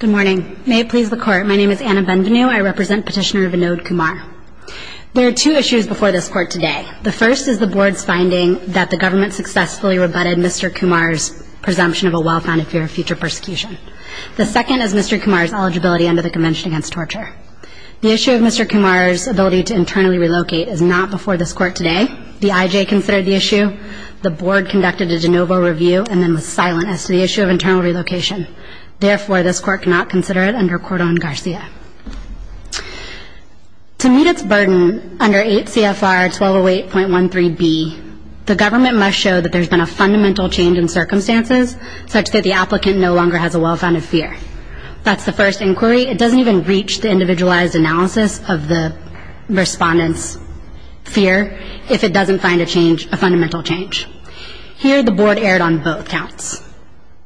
Good morning. May it please the Court, my name is Anna Benvenu. I represent Petitioner Vinod Kumar. There are two issues before this Court today. The first is the Board's finding that the Government successfully rebutted Mr. Kumar's presumption of a well-founded fear of future persecution. The second is Mr. Kumar's eligibility under the Convention Against Torture. The issue of Mr. Kumar's ability to internally relocate is not before this Court today. The IJ considered the issue. The Board conducted a internal relocation. Therefore, this Court cannot consider it under Cordon Garcia. To meet its burden under 8 CFR 1208.13b, the Government must show that there has been a fundamental change in circumstances such that the applicant no longer has a well-founded fear. That's the first inquiry. It doesn't even reach the individualized analysis of the respondent's fear if it doesn't find a change, a fundamental change. Here, the Board erred on both counts.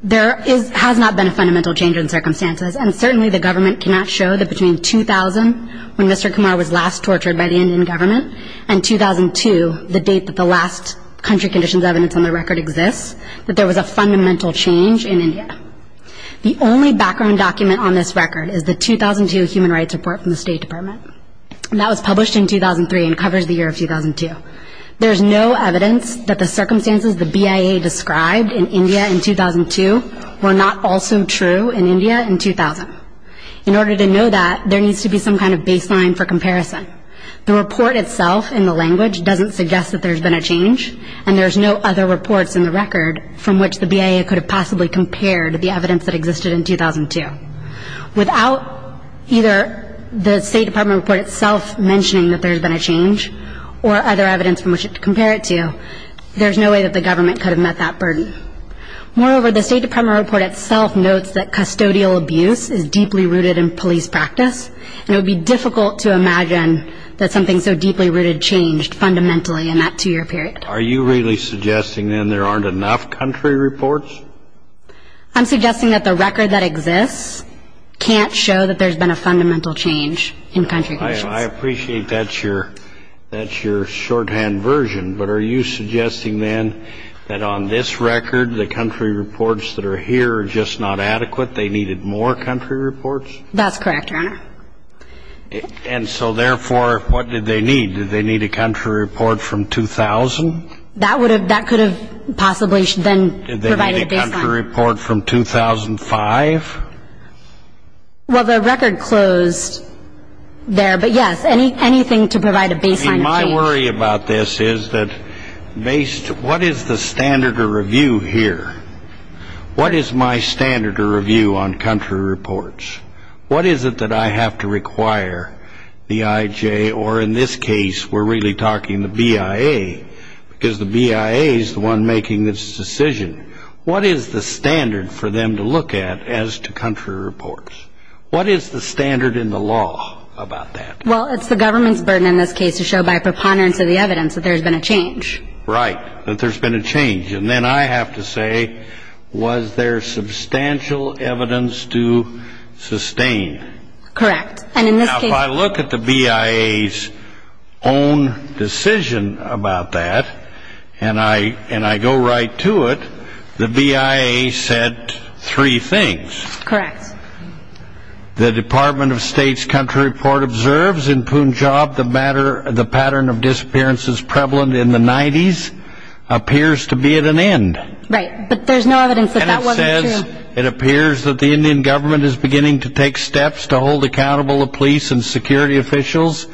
There has not been a fundamental change in circumstances, and certainly the Government cannot show that between 2000, when Mr. Kumar was last tortured by the Indian Government, and 2002, the date that the last country conditions evidence on the record exists, that there was a fundamental change in India. The only background document on this record is the 2002 Human Rights Report from the State Department. That was published in 2003 and described in India in 2002 were not also true in India in 2000. In order to know that, there needs to be some kind of baseline for comparison. The report itself in the language doesn't suggest that there's been a change, and there's no other reports in the record from which the BIA could have possibly compared the evidence that existed in 2002. Without either the State Department report itself mentioning that there's been a change or other evidence from which to compare it to, there's no way that the Government could have met that burden. Moreover, the State Department report itself notes that custodial abuse is deeply rooted in police practice, and it would be difficult to imagine that something so deeply rooted changed fundamentally in that two-year period. Are you really suggesting, then, there aren't enough country reports? I'm suggesting that the record that exists can't show that there's been a fundamental change in country conditions. I appreciate that's your shorthand version, but are you suggesting, then, that on this record, the country reports that are here are just not adequate? They needed more country reports? That's correct, Your Honor. And so, therefore, what did they need? Did they need a country report from 2000? That could have possibly then provided a baseline. Did they need a country report from 2005? Well, the record closed there, but, yes, anything to provide a baseline of change. Well, what I worry about this is that what is the standard of review here? What is my standard of review on country reports? What is it that I have to require the IJ, or in this case, we're really talking the BIA, because the BIA is the one making this decision. What is the standard for them to look at as to country reports? What is the standard in the law about that? Well, it's the government's burden in this case to show by preponderance of the evidence that there's been a change. Right, that there's been a change. And then I have to say, was there substantial evidence to sustain? Correct. And in this case... Now, if I look at the BIA's own decision about that, and I go right to it, the BIA said three things. Correct. The Department of State's country report observes in Punjab the pattern of disappearances prevalent in the 90s appears to be at an end. Right, but there's no evidence that that wasn't true. And it says it appears that the Indian government is beginning to take steps to hold accountable the police and security officials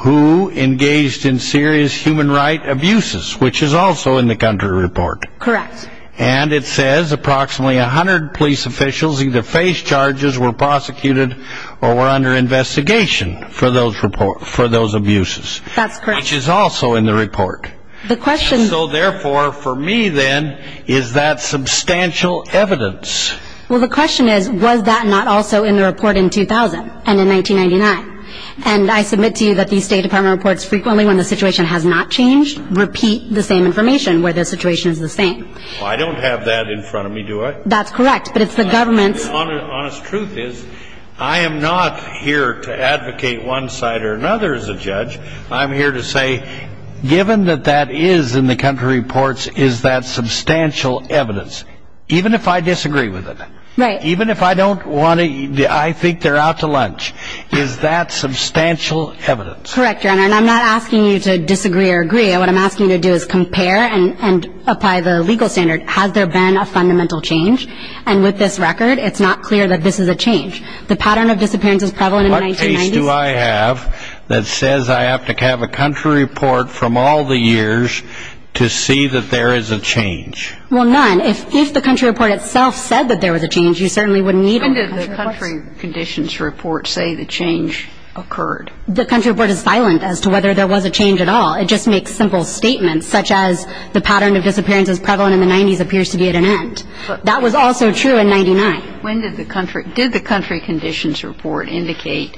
who engaged in serious human rights abuses, which is also in the country report. Correct. And it says approximately 100 police officials either faced charges, were prosecuted, or were under investigation for those abuses. That's correct. Well, the question is, was that not also in the report in 2000 and in 1999? And I submit to you that the State Department reports frequently when the situation has not changed repeat the same information where the situation is the same. I don't have that in front of me, do I? That's correct, but it's the government's... The honest truth is, I am not here to advocate one side or another as a judge. I'm here to say, given that that is in the country reports, is that substantial evidence, even if I disagree with it? Right. Even if I think they're out to lunch, is that substantial evidence? Correct, Your Honor, and I'm not asking you to disagree or agree. What I'm asking you to do is compare and apply the legal standard. Has there been a fundamental change? And with this record, it's not clear that this is a change. What case do I have that says I have to have a country report from all the years to see that there is a change? Well, none. If the country report itself said that there was a change, you certainly wouldn't need... When did the country conditions report say the change occurred? The country report is silent as to whether there was a change at all. It just makes simple statements, such as the pattern of disappearances prevalent in the 90s appears to be at an end. That was also true in 99. When did the country... Did the country conditions report indicate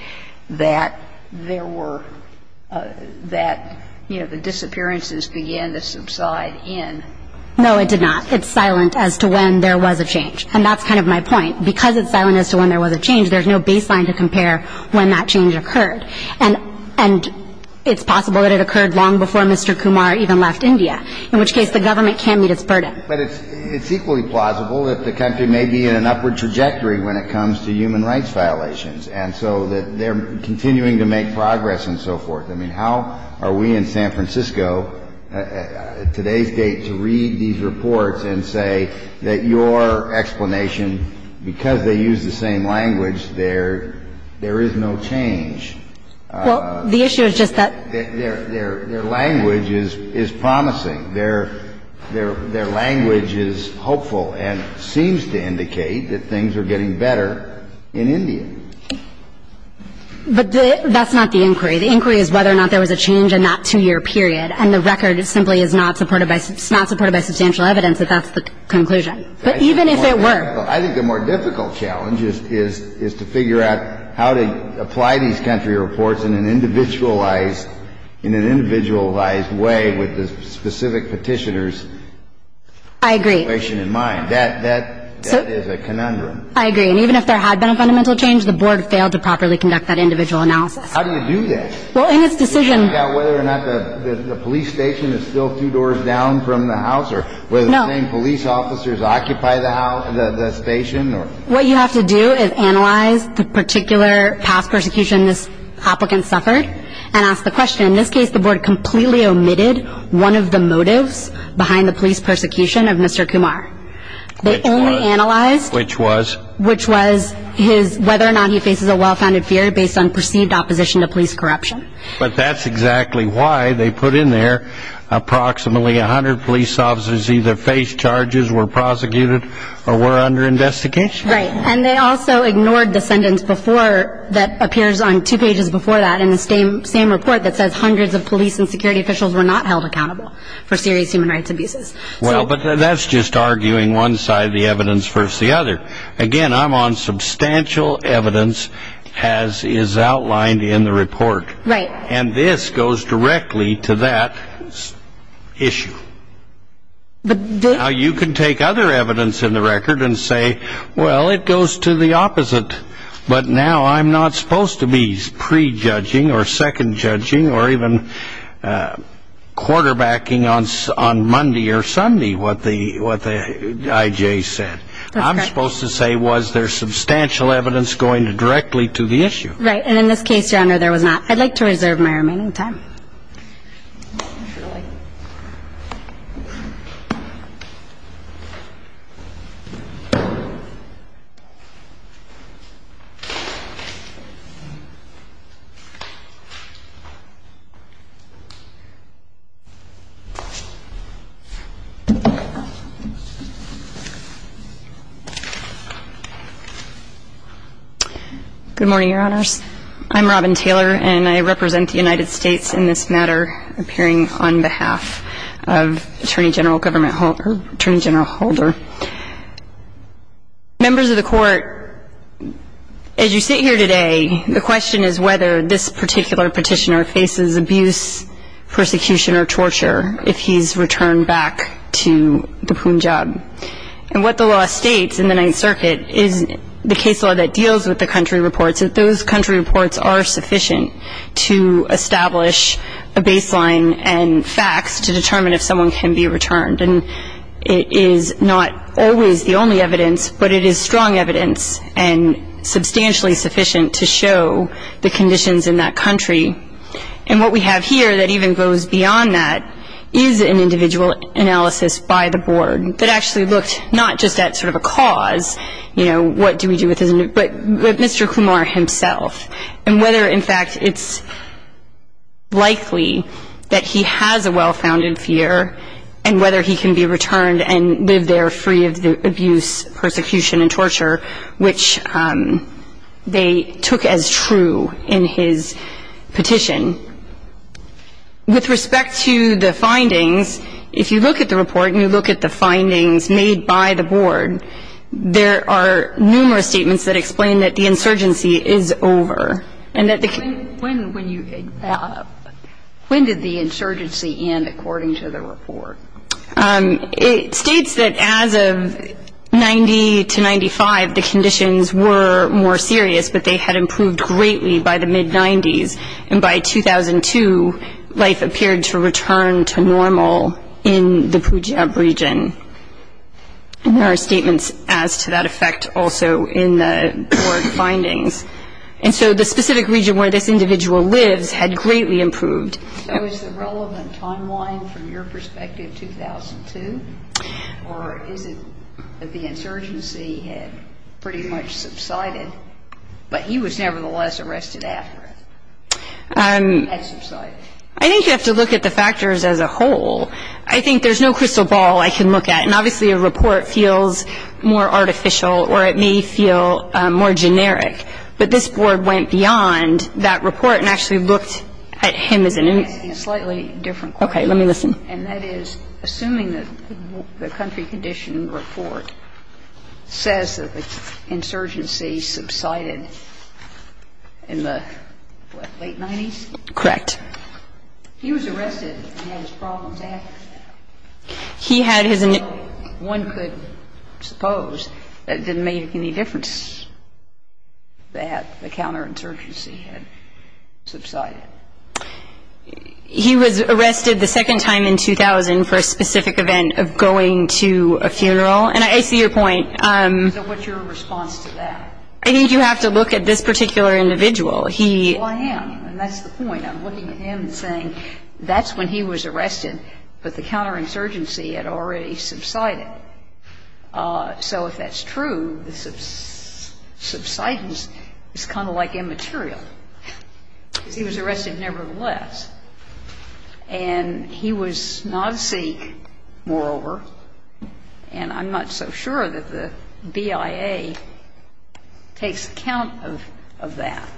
that there were... That, you know, the disappearances began to subside in... No, it did not. It's silent as to when there was a change, and that's kind of my point. Because it's silent as to when there was a change, there's no baseline to compare when that change occurred. And it's possible that it occurred long before Mr. Kumar even left India, in which case the government can meet its burden. But it's equally plausible that the country may be in an upward trajectory when it comes to human rights violations, and so that they're continuing to make progress and so forth. I mean, how are we in San Francisco at today's date to read these reports and say that your explanation, because they use the same language, there is no change? Well, the issue is just that... Their language is promising. Their language is hopeful and seems to indicate that things are getting better in India. But that's not the inquiry. The inquiry is whether or not there was a change in that two-year period. And the record simply is not supported by substantial evidence that that's the conclusion. But even if it were... I think the more difficult challenge is to figure out how to apply these country reports in an individualized way with the specific petitioners' situation in mind. I agree. That is a conundrum. I agree. And even if there had been a fundamental change, the board failed to properly conduct that individual analysis. How do you do that? Well, in its decision... To check out whether or not the police station is still two doors down from the house or... No. Whether the same police officers occupy the station or... What you have to do is analyze the particular past persecution this applicant suffered and ask the question. In this case, the board completely omitted one of the motives behind the police persecution of Mr. Kumar. They only analyzed... Which was? Which was whether or not he faces a well-founded fear based on perceived opposition to police corruption. But that's exactly why they put in there approximately 100 police officers either face charges, were prosecuted, or were under investigation. Right. And they also ignored the sentence before that appears on two pages before that in the same report that says hundreds of police and security officials were not held accountable for serious human rights abuses. Well, but that's just arguing one side of the evidence versus the other. Again, I'm on substantial evidence as is outlined in the report. Right. And this goes directly to that issue. But... Now, you can take other evidence in the record and say, well, it goes to the opposite. But now I'm not supposed to be prejudging or second judging or even quarterbacking on Monday or Sunday what the I.J. said. That's correct. I'm supposed to say, was there substantial evidence going directly to the issue? Right. And in this case, Your Honor, there was not. I'd like to reserve my remaining time. Good morning, Your Honors. I'm Robin Taylor, and I represent the United States in this matter appearing on behalf of Attorney General Holder. Members of the Court, as you sit here today, the question is whether this particular petitioner faces abuse, persecution, or torture if he's returned back to the Punjab. And what the law states in the Ninth Circuit is the case law that deals with the country reports, that those country reports are sufficient to establish a baseline and facts to determine if someone can be returned. And it is not always the only evidence, but it is strong evidence and substantially sufficient to show the conditions in that country. And what we have here that even goes beyond that is an individual analysis by the board that actually looked not just at sort of a cause, you know, what do we do with his, but Mr. Kumar himself, and whether, in fact, it's likely that he has a well-founded fear and whether he can be returned and live there free of the abuse, persecution, and torture, which they took as true in his petition. With respect to the findings, if you look at the report and you look at the findings made by the board, there are numerous statements that explain that the insurgency is over and that the ---- When did the insurgency end, according to the report? It states that as of 90 to 95, the conditions were more serious, but they had improved greatly by the mid-'90s. And by 2002, life appeared to return to normal in the Punjab region. And there are statements as to that effect also in the board findings. And so the specific region where this individual lives had greatly improved. So is the relevant timeline from your perspective 2002, or is it that the insurgency had pretty much subsided, but he was nevertheless arrested after it had subsided? I think you have to look at the factors as a whole. I think there's no crystal ball I can look at. And obviously a report feels more artificial or it may feel more generic. But this board went beyond that report and actually looked at him as an individual. Okay. Let me listen. And that is, assuming that the country condition report says that the insurgency subsided in the, what, late-'90s? Correct. He was arrested and had his problems acted. He had his ---- One could suppose that it didn't make any difference. That the counterinsurgency had subsided. He was arrested the second time in 2000 for a specific event of going to a funeral. And I see your point. So what's your response to that? I think you have to look at this particular individual. Well, I am. And that's the point. I'm looking at him and saying that's when he was arrested, but the counterinsurgency had already subsided. So if that's true, the subsidence is kind of like immaterial. Because he was arrested nevertheless. And he was not a Sikh, moreover. And I'm not so sure that the BIA takes account of that.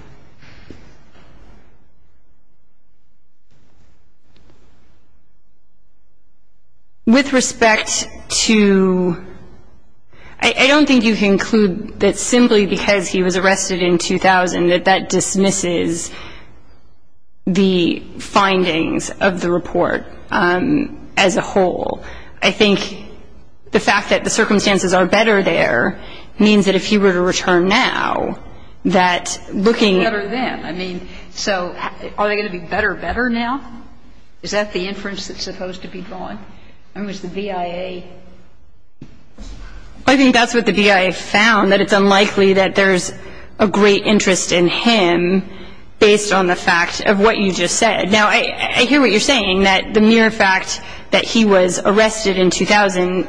With respect to ---- I don't think you can conclude that simply because he was arrested in 2000 that that dismisses the findings of the report as a whole. I think the fact that the circumstances are better there means that if he were to return now, that looking ---- Better then. I mean, so are they going to be better better now? Is that the inference that's supposed to be drawn? I mean, was the BIA ---- I think that's what the BIA found, that it's unlikely that there's a great interest in him based on the fact of what you just said. Now, I hear what you're saying, that the mere fact that he was arrested in 2000,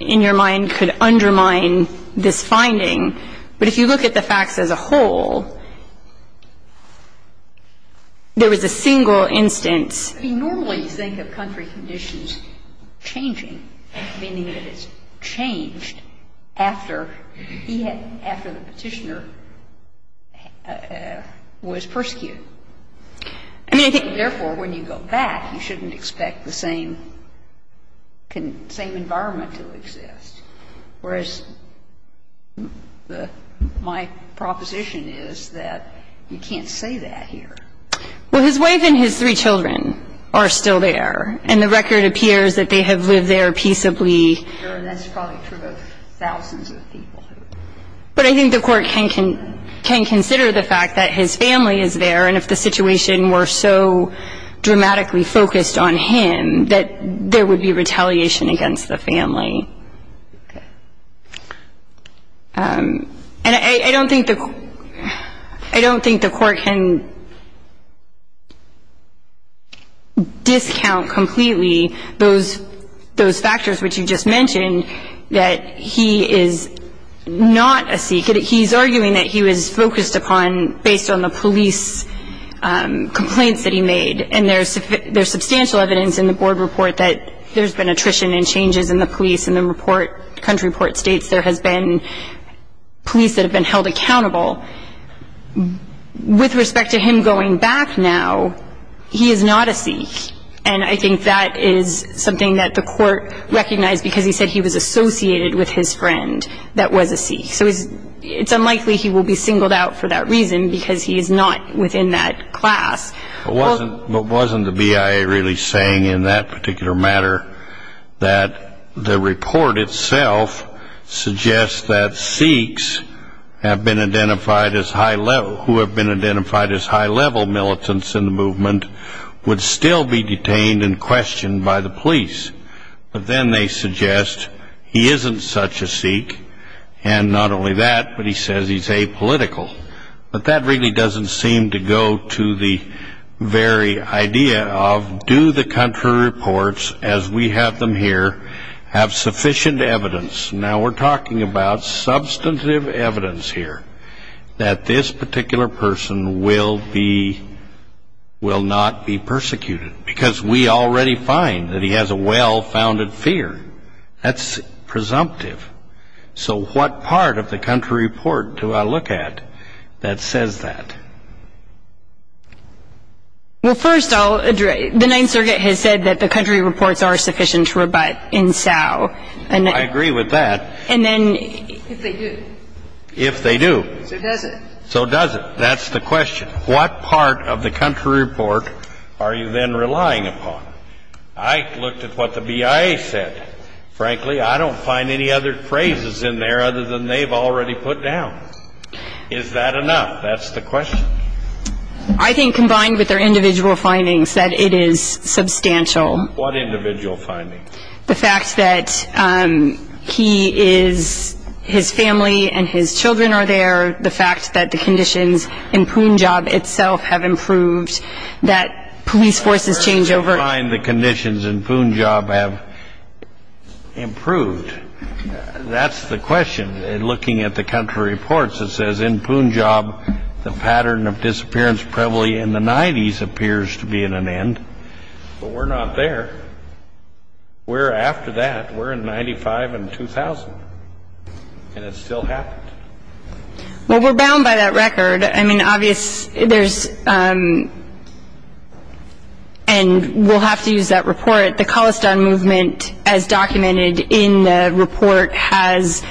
in your mind, could undermine this finding. But if you look at the facts as a whole, there was a single instance. We normally think of country conditions changing, meaning that it's changed after he had ---- after the Petitioner was persecuted. I mean, therefore, when you go back, you shouldn't expect the same environment to exist. Whereas my proposition is that you can't say that here. Well, his wife and his three children are still there, and the record appears that they have lived there peaceably. And that's probably true of thousands of people. But I think the Court can consider the fact that his family is there, and if the situation were so dramatically focused on him, that there would be retaliation against the family. Okay. And I don't think the Court can discount completely those factors which you just mentioned, that he is not a seeker. He's arguing that he was focused upon based on the police complaints that he made. And there's substantial evidence in the board report that there's been attrition and changes in the police, and the country report states there has been police that have been held accountable. With respect to him going back now, he is not a seeker. And I think that is something that the Court recognized because he said he was associated with his friend that was a seeker. So it's unlikely he will be singled out for that reason because he is not within that class. Wasn't the BIA really saying in that particular matter that the report itself suggests that Sikhs who have been identified as high-level militants in the movement would still be detained and questioned by the police? But then they suggest he isn't such a Sikh, and not only that, but he says he's apolitical. But that really doesn't seem to go to the very idea of do the country reports, as we have them here, have sufficient evidence? Now, we're talking about substantive evidence here that this particular person will not be persecuted because we already find that he has a well-founded fear. That's presumptive. So what part of the country report do I look at that says that? Well, first, I'll address the Ninth Circuit has said that the country reports are sufficient to rebut in SAO. I agree with that. And then if they do. If they do. So does it. So does it. That's the question. What part of the country report are you then relying upon? I looked at what the BIA said. Frankly, I don't find any other phrases in there other than they've already put down. Is that enough? That's the question. I think, combined with their individual findings, that it is substantial. What individual findings? The fact that he is, his family and his children are there, the fact that the conditions in Punjab itself have improved, that police forces change over. I don't find the conditions in Punjab have improved. That's the question. Looking at the country reports, it says in Punjab the pattern of disappearance probably in the 90s appears to be at an end. But we're not there. We're after that. We're in 95 and 2000. And it still happened. Well, we're bound by that record. I mean, obviously there's and we'll have to use that report. The Khalistan movement, as documented in the report, has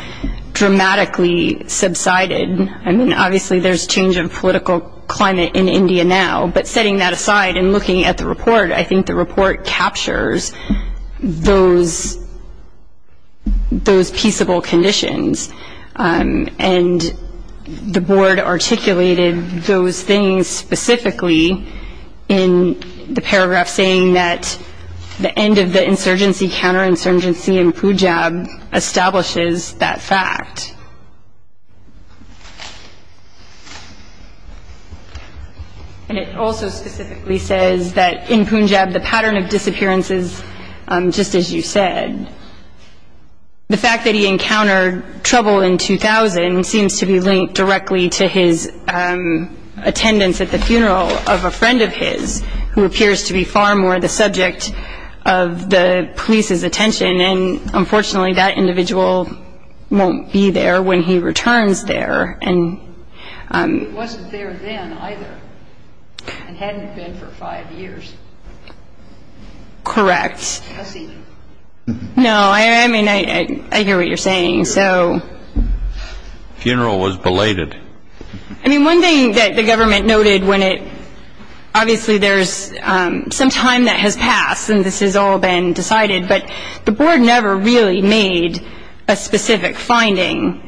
dramatically subsided. I mean, obviously there's change in political climate in India now. But setting that aside and looking at the report, I think the report captures those peaceable conditions. And the board articulated those things specifically in the paragraph saying that the end of the insurgency, counterinsurgency in Punjab establishes that fact. And it also specifically says that in Punjab the pattern of disappearance is just as you said. The fact that he encountered trouble in 2000 seems to be linked directly to his attendance at the funeral of a friend of his, who appears to be far more the subject of the police's attention. And, unfortunately, that individual won't be there when he returns there. He wasn't there then either and hadn't been for five years. Correct. I see. No, I mean, I hear what you're saying. So. Funeral was belated. I mean, one thing that the government noted when it, obviously there's some time that has passed and this has all been decided, but the board never really made a specific finding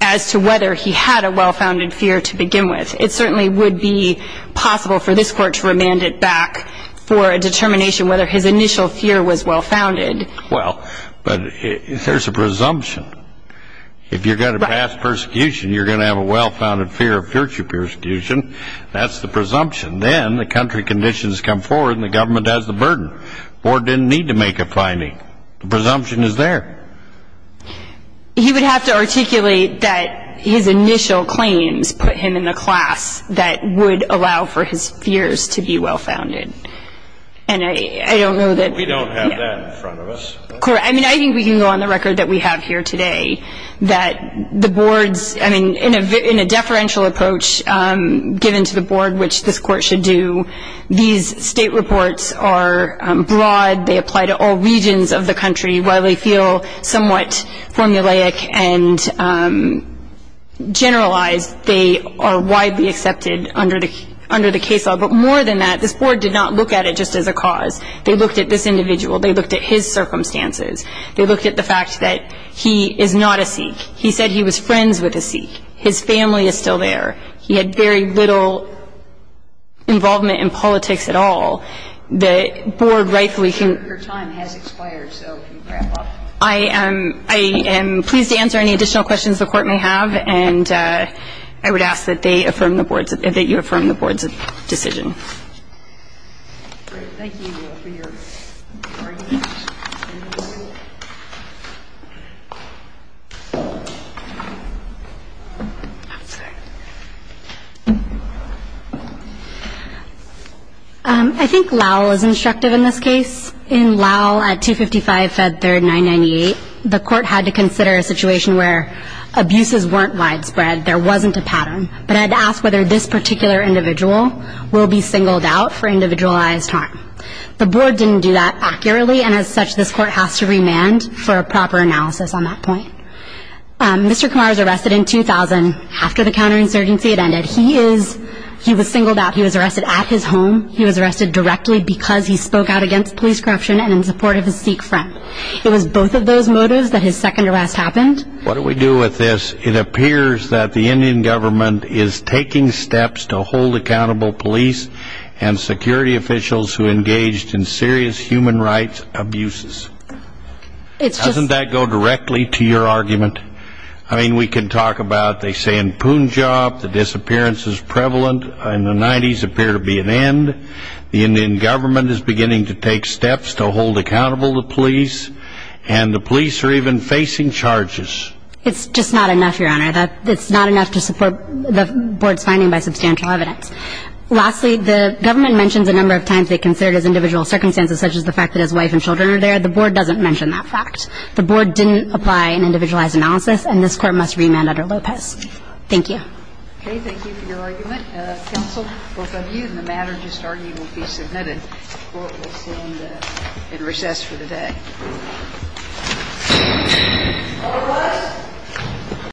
as to whether he had a well-founded fear to begin with. It certainly would be possible for this court to remand it back for a determination whether his initial fear was well-founded. Well, but there's a presumption. If you're going to pass persecution, you're going to have a well-founded fear of future persecution. That's the presumption. Then the country conditions come forward and the government has the burden. The board didn't need to make a finding. The presumption is there. He would have to articulate that his initial claims put him in the class that would allow for his fears to be well-founded. And I don't know that. We don't have that in front of us. I mean, I think we can go on the record that we have here today that the board's, I mean, in a deferential approach given to the board, which this court should do, these state reports are broad. They apply to all regions of the country. While they feel somewhat formulaic and generalized, they are widely accepted under the case law. But more than that, this board did not look at it just as a cause. They looked at this individual. They looked at his circumstances. They looked at the fact that he is not a Sikh. He said he was friends with a Sikh. His family is still there. He had very little involvement in politics at all. The board rightfully can't. Your time has expired, so you can wrap up. I am pleased to answer any additional questions the Court may have. And I would ask that they affirm the board's, that you affirm the board's decision. Thank you for your argument. I think Lau was instructive in this case. In Lau at 255 Fed Third 998, the court had to consider a situation where abuses weren't widespread, there wasn't a pattern, but had to ask whether this particular individual will be singled out for individualized harm. The board didn't do that accurately, and as such, this court has to remand for a proper analysis on that point. Mr. Kumar was arrested in 2000 after the counterinsurgency had ended. He is, he was singled out. He was arrested at his home. He was arrested directly because he spoke out against police corruption and in support of his Sikh friend. It was both of those motives that his second arrest happened. What do we do with this? It appears that the Indian government is taking steps to hold accountable police and security officials who engaged in serious human rights abuses. Doesn't that go directly to your argument? I mean, we can talk about they say in Punjab the disappearance is prevalent, in the 90s appear to be an end, the Indian government is beginning to take steps to hold accountable the police, and the police are even facing charges. It's just not enough, Your Honor. It's not enough to support the board's finding by substantial evidence. Lastly, the government mentions a number of times they consider it as individual circumstances such as the fact that his wife and children are there. The board doesn't mention that fact. The board didn't apply an individualized analysis, and this court must remand under Lopez. Thank you. Okay. Thank you for your argument. Counsel, both of you, and the matter just argued will be submitted. The court will stand in recess for the day. All rise.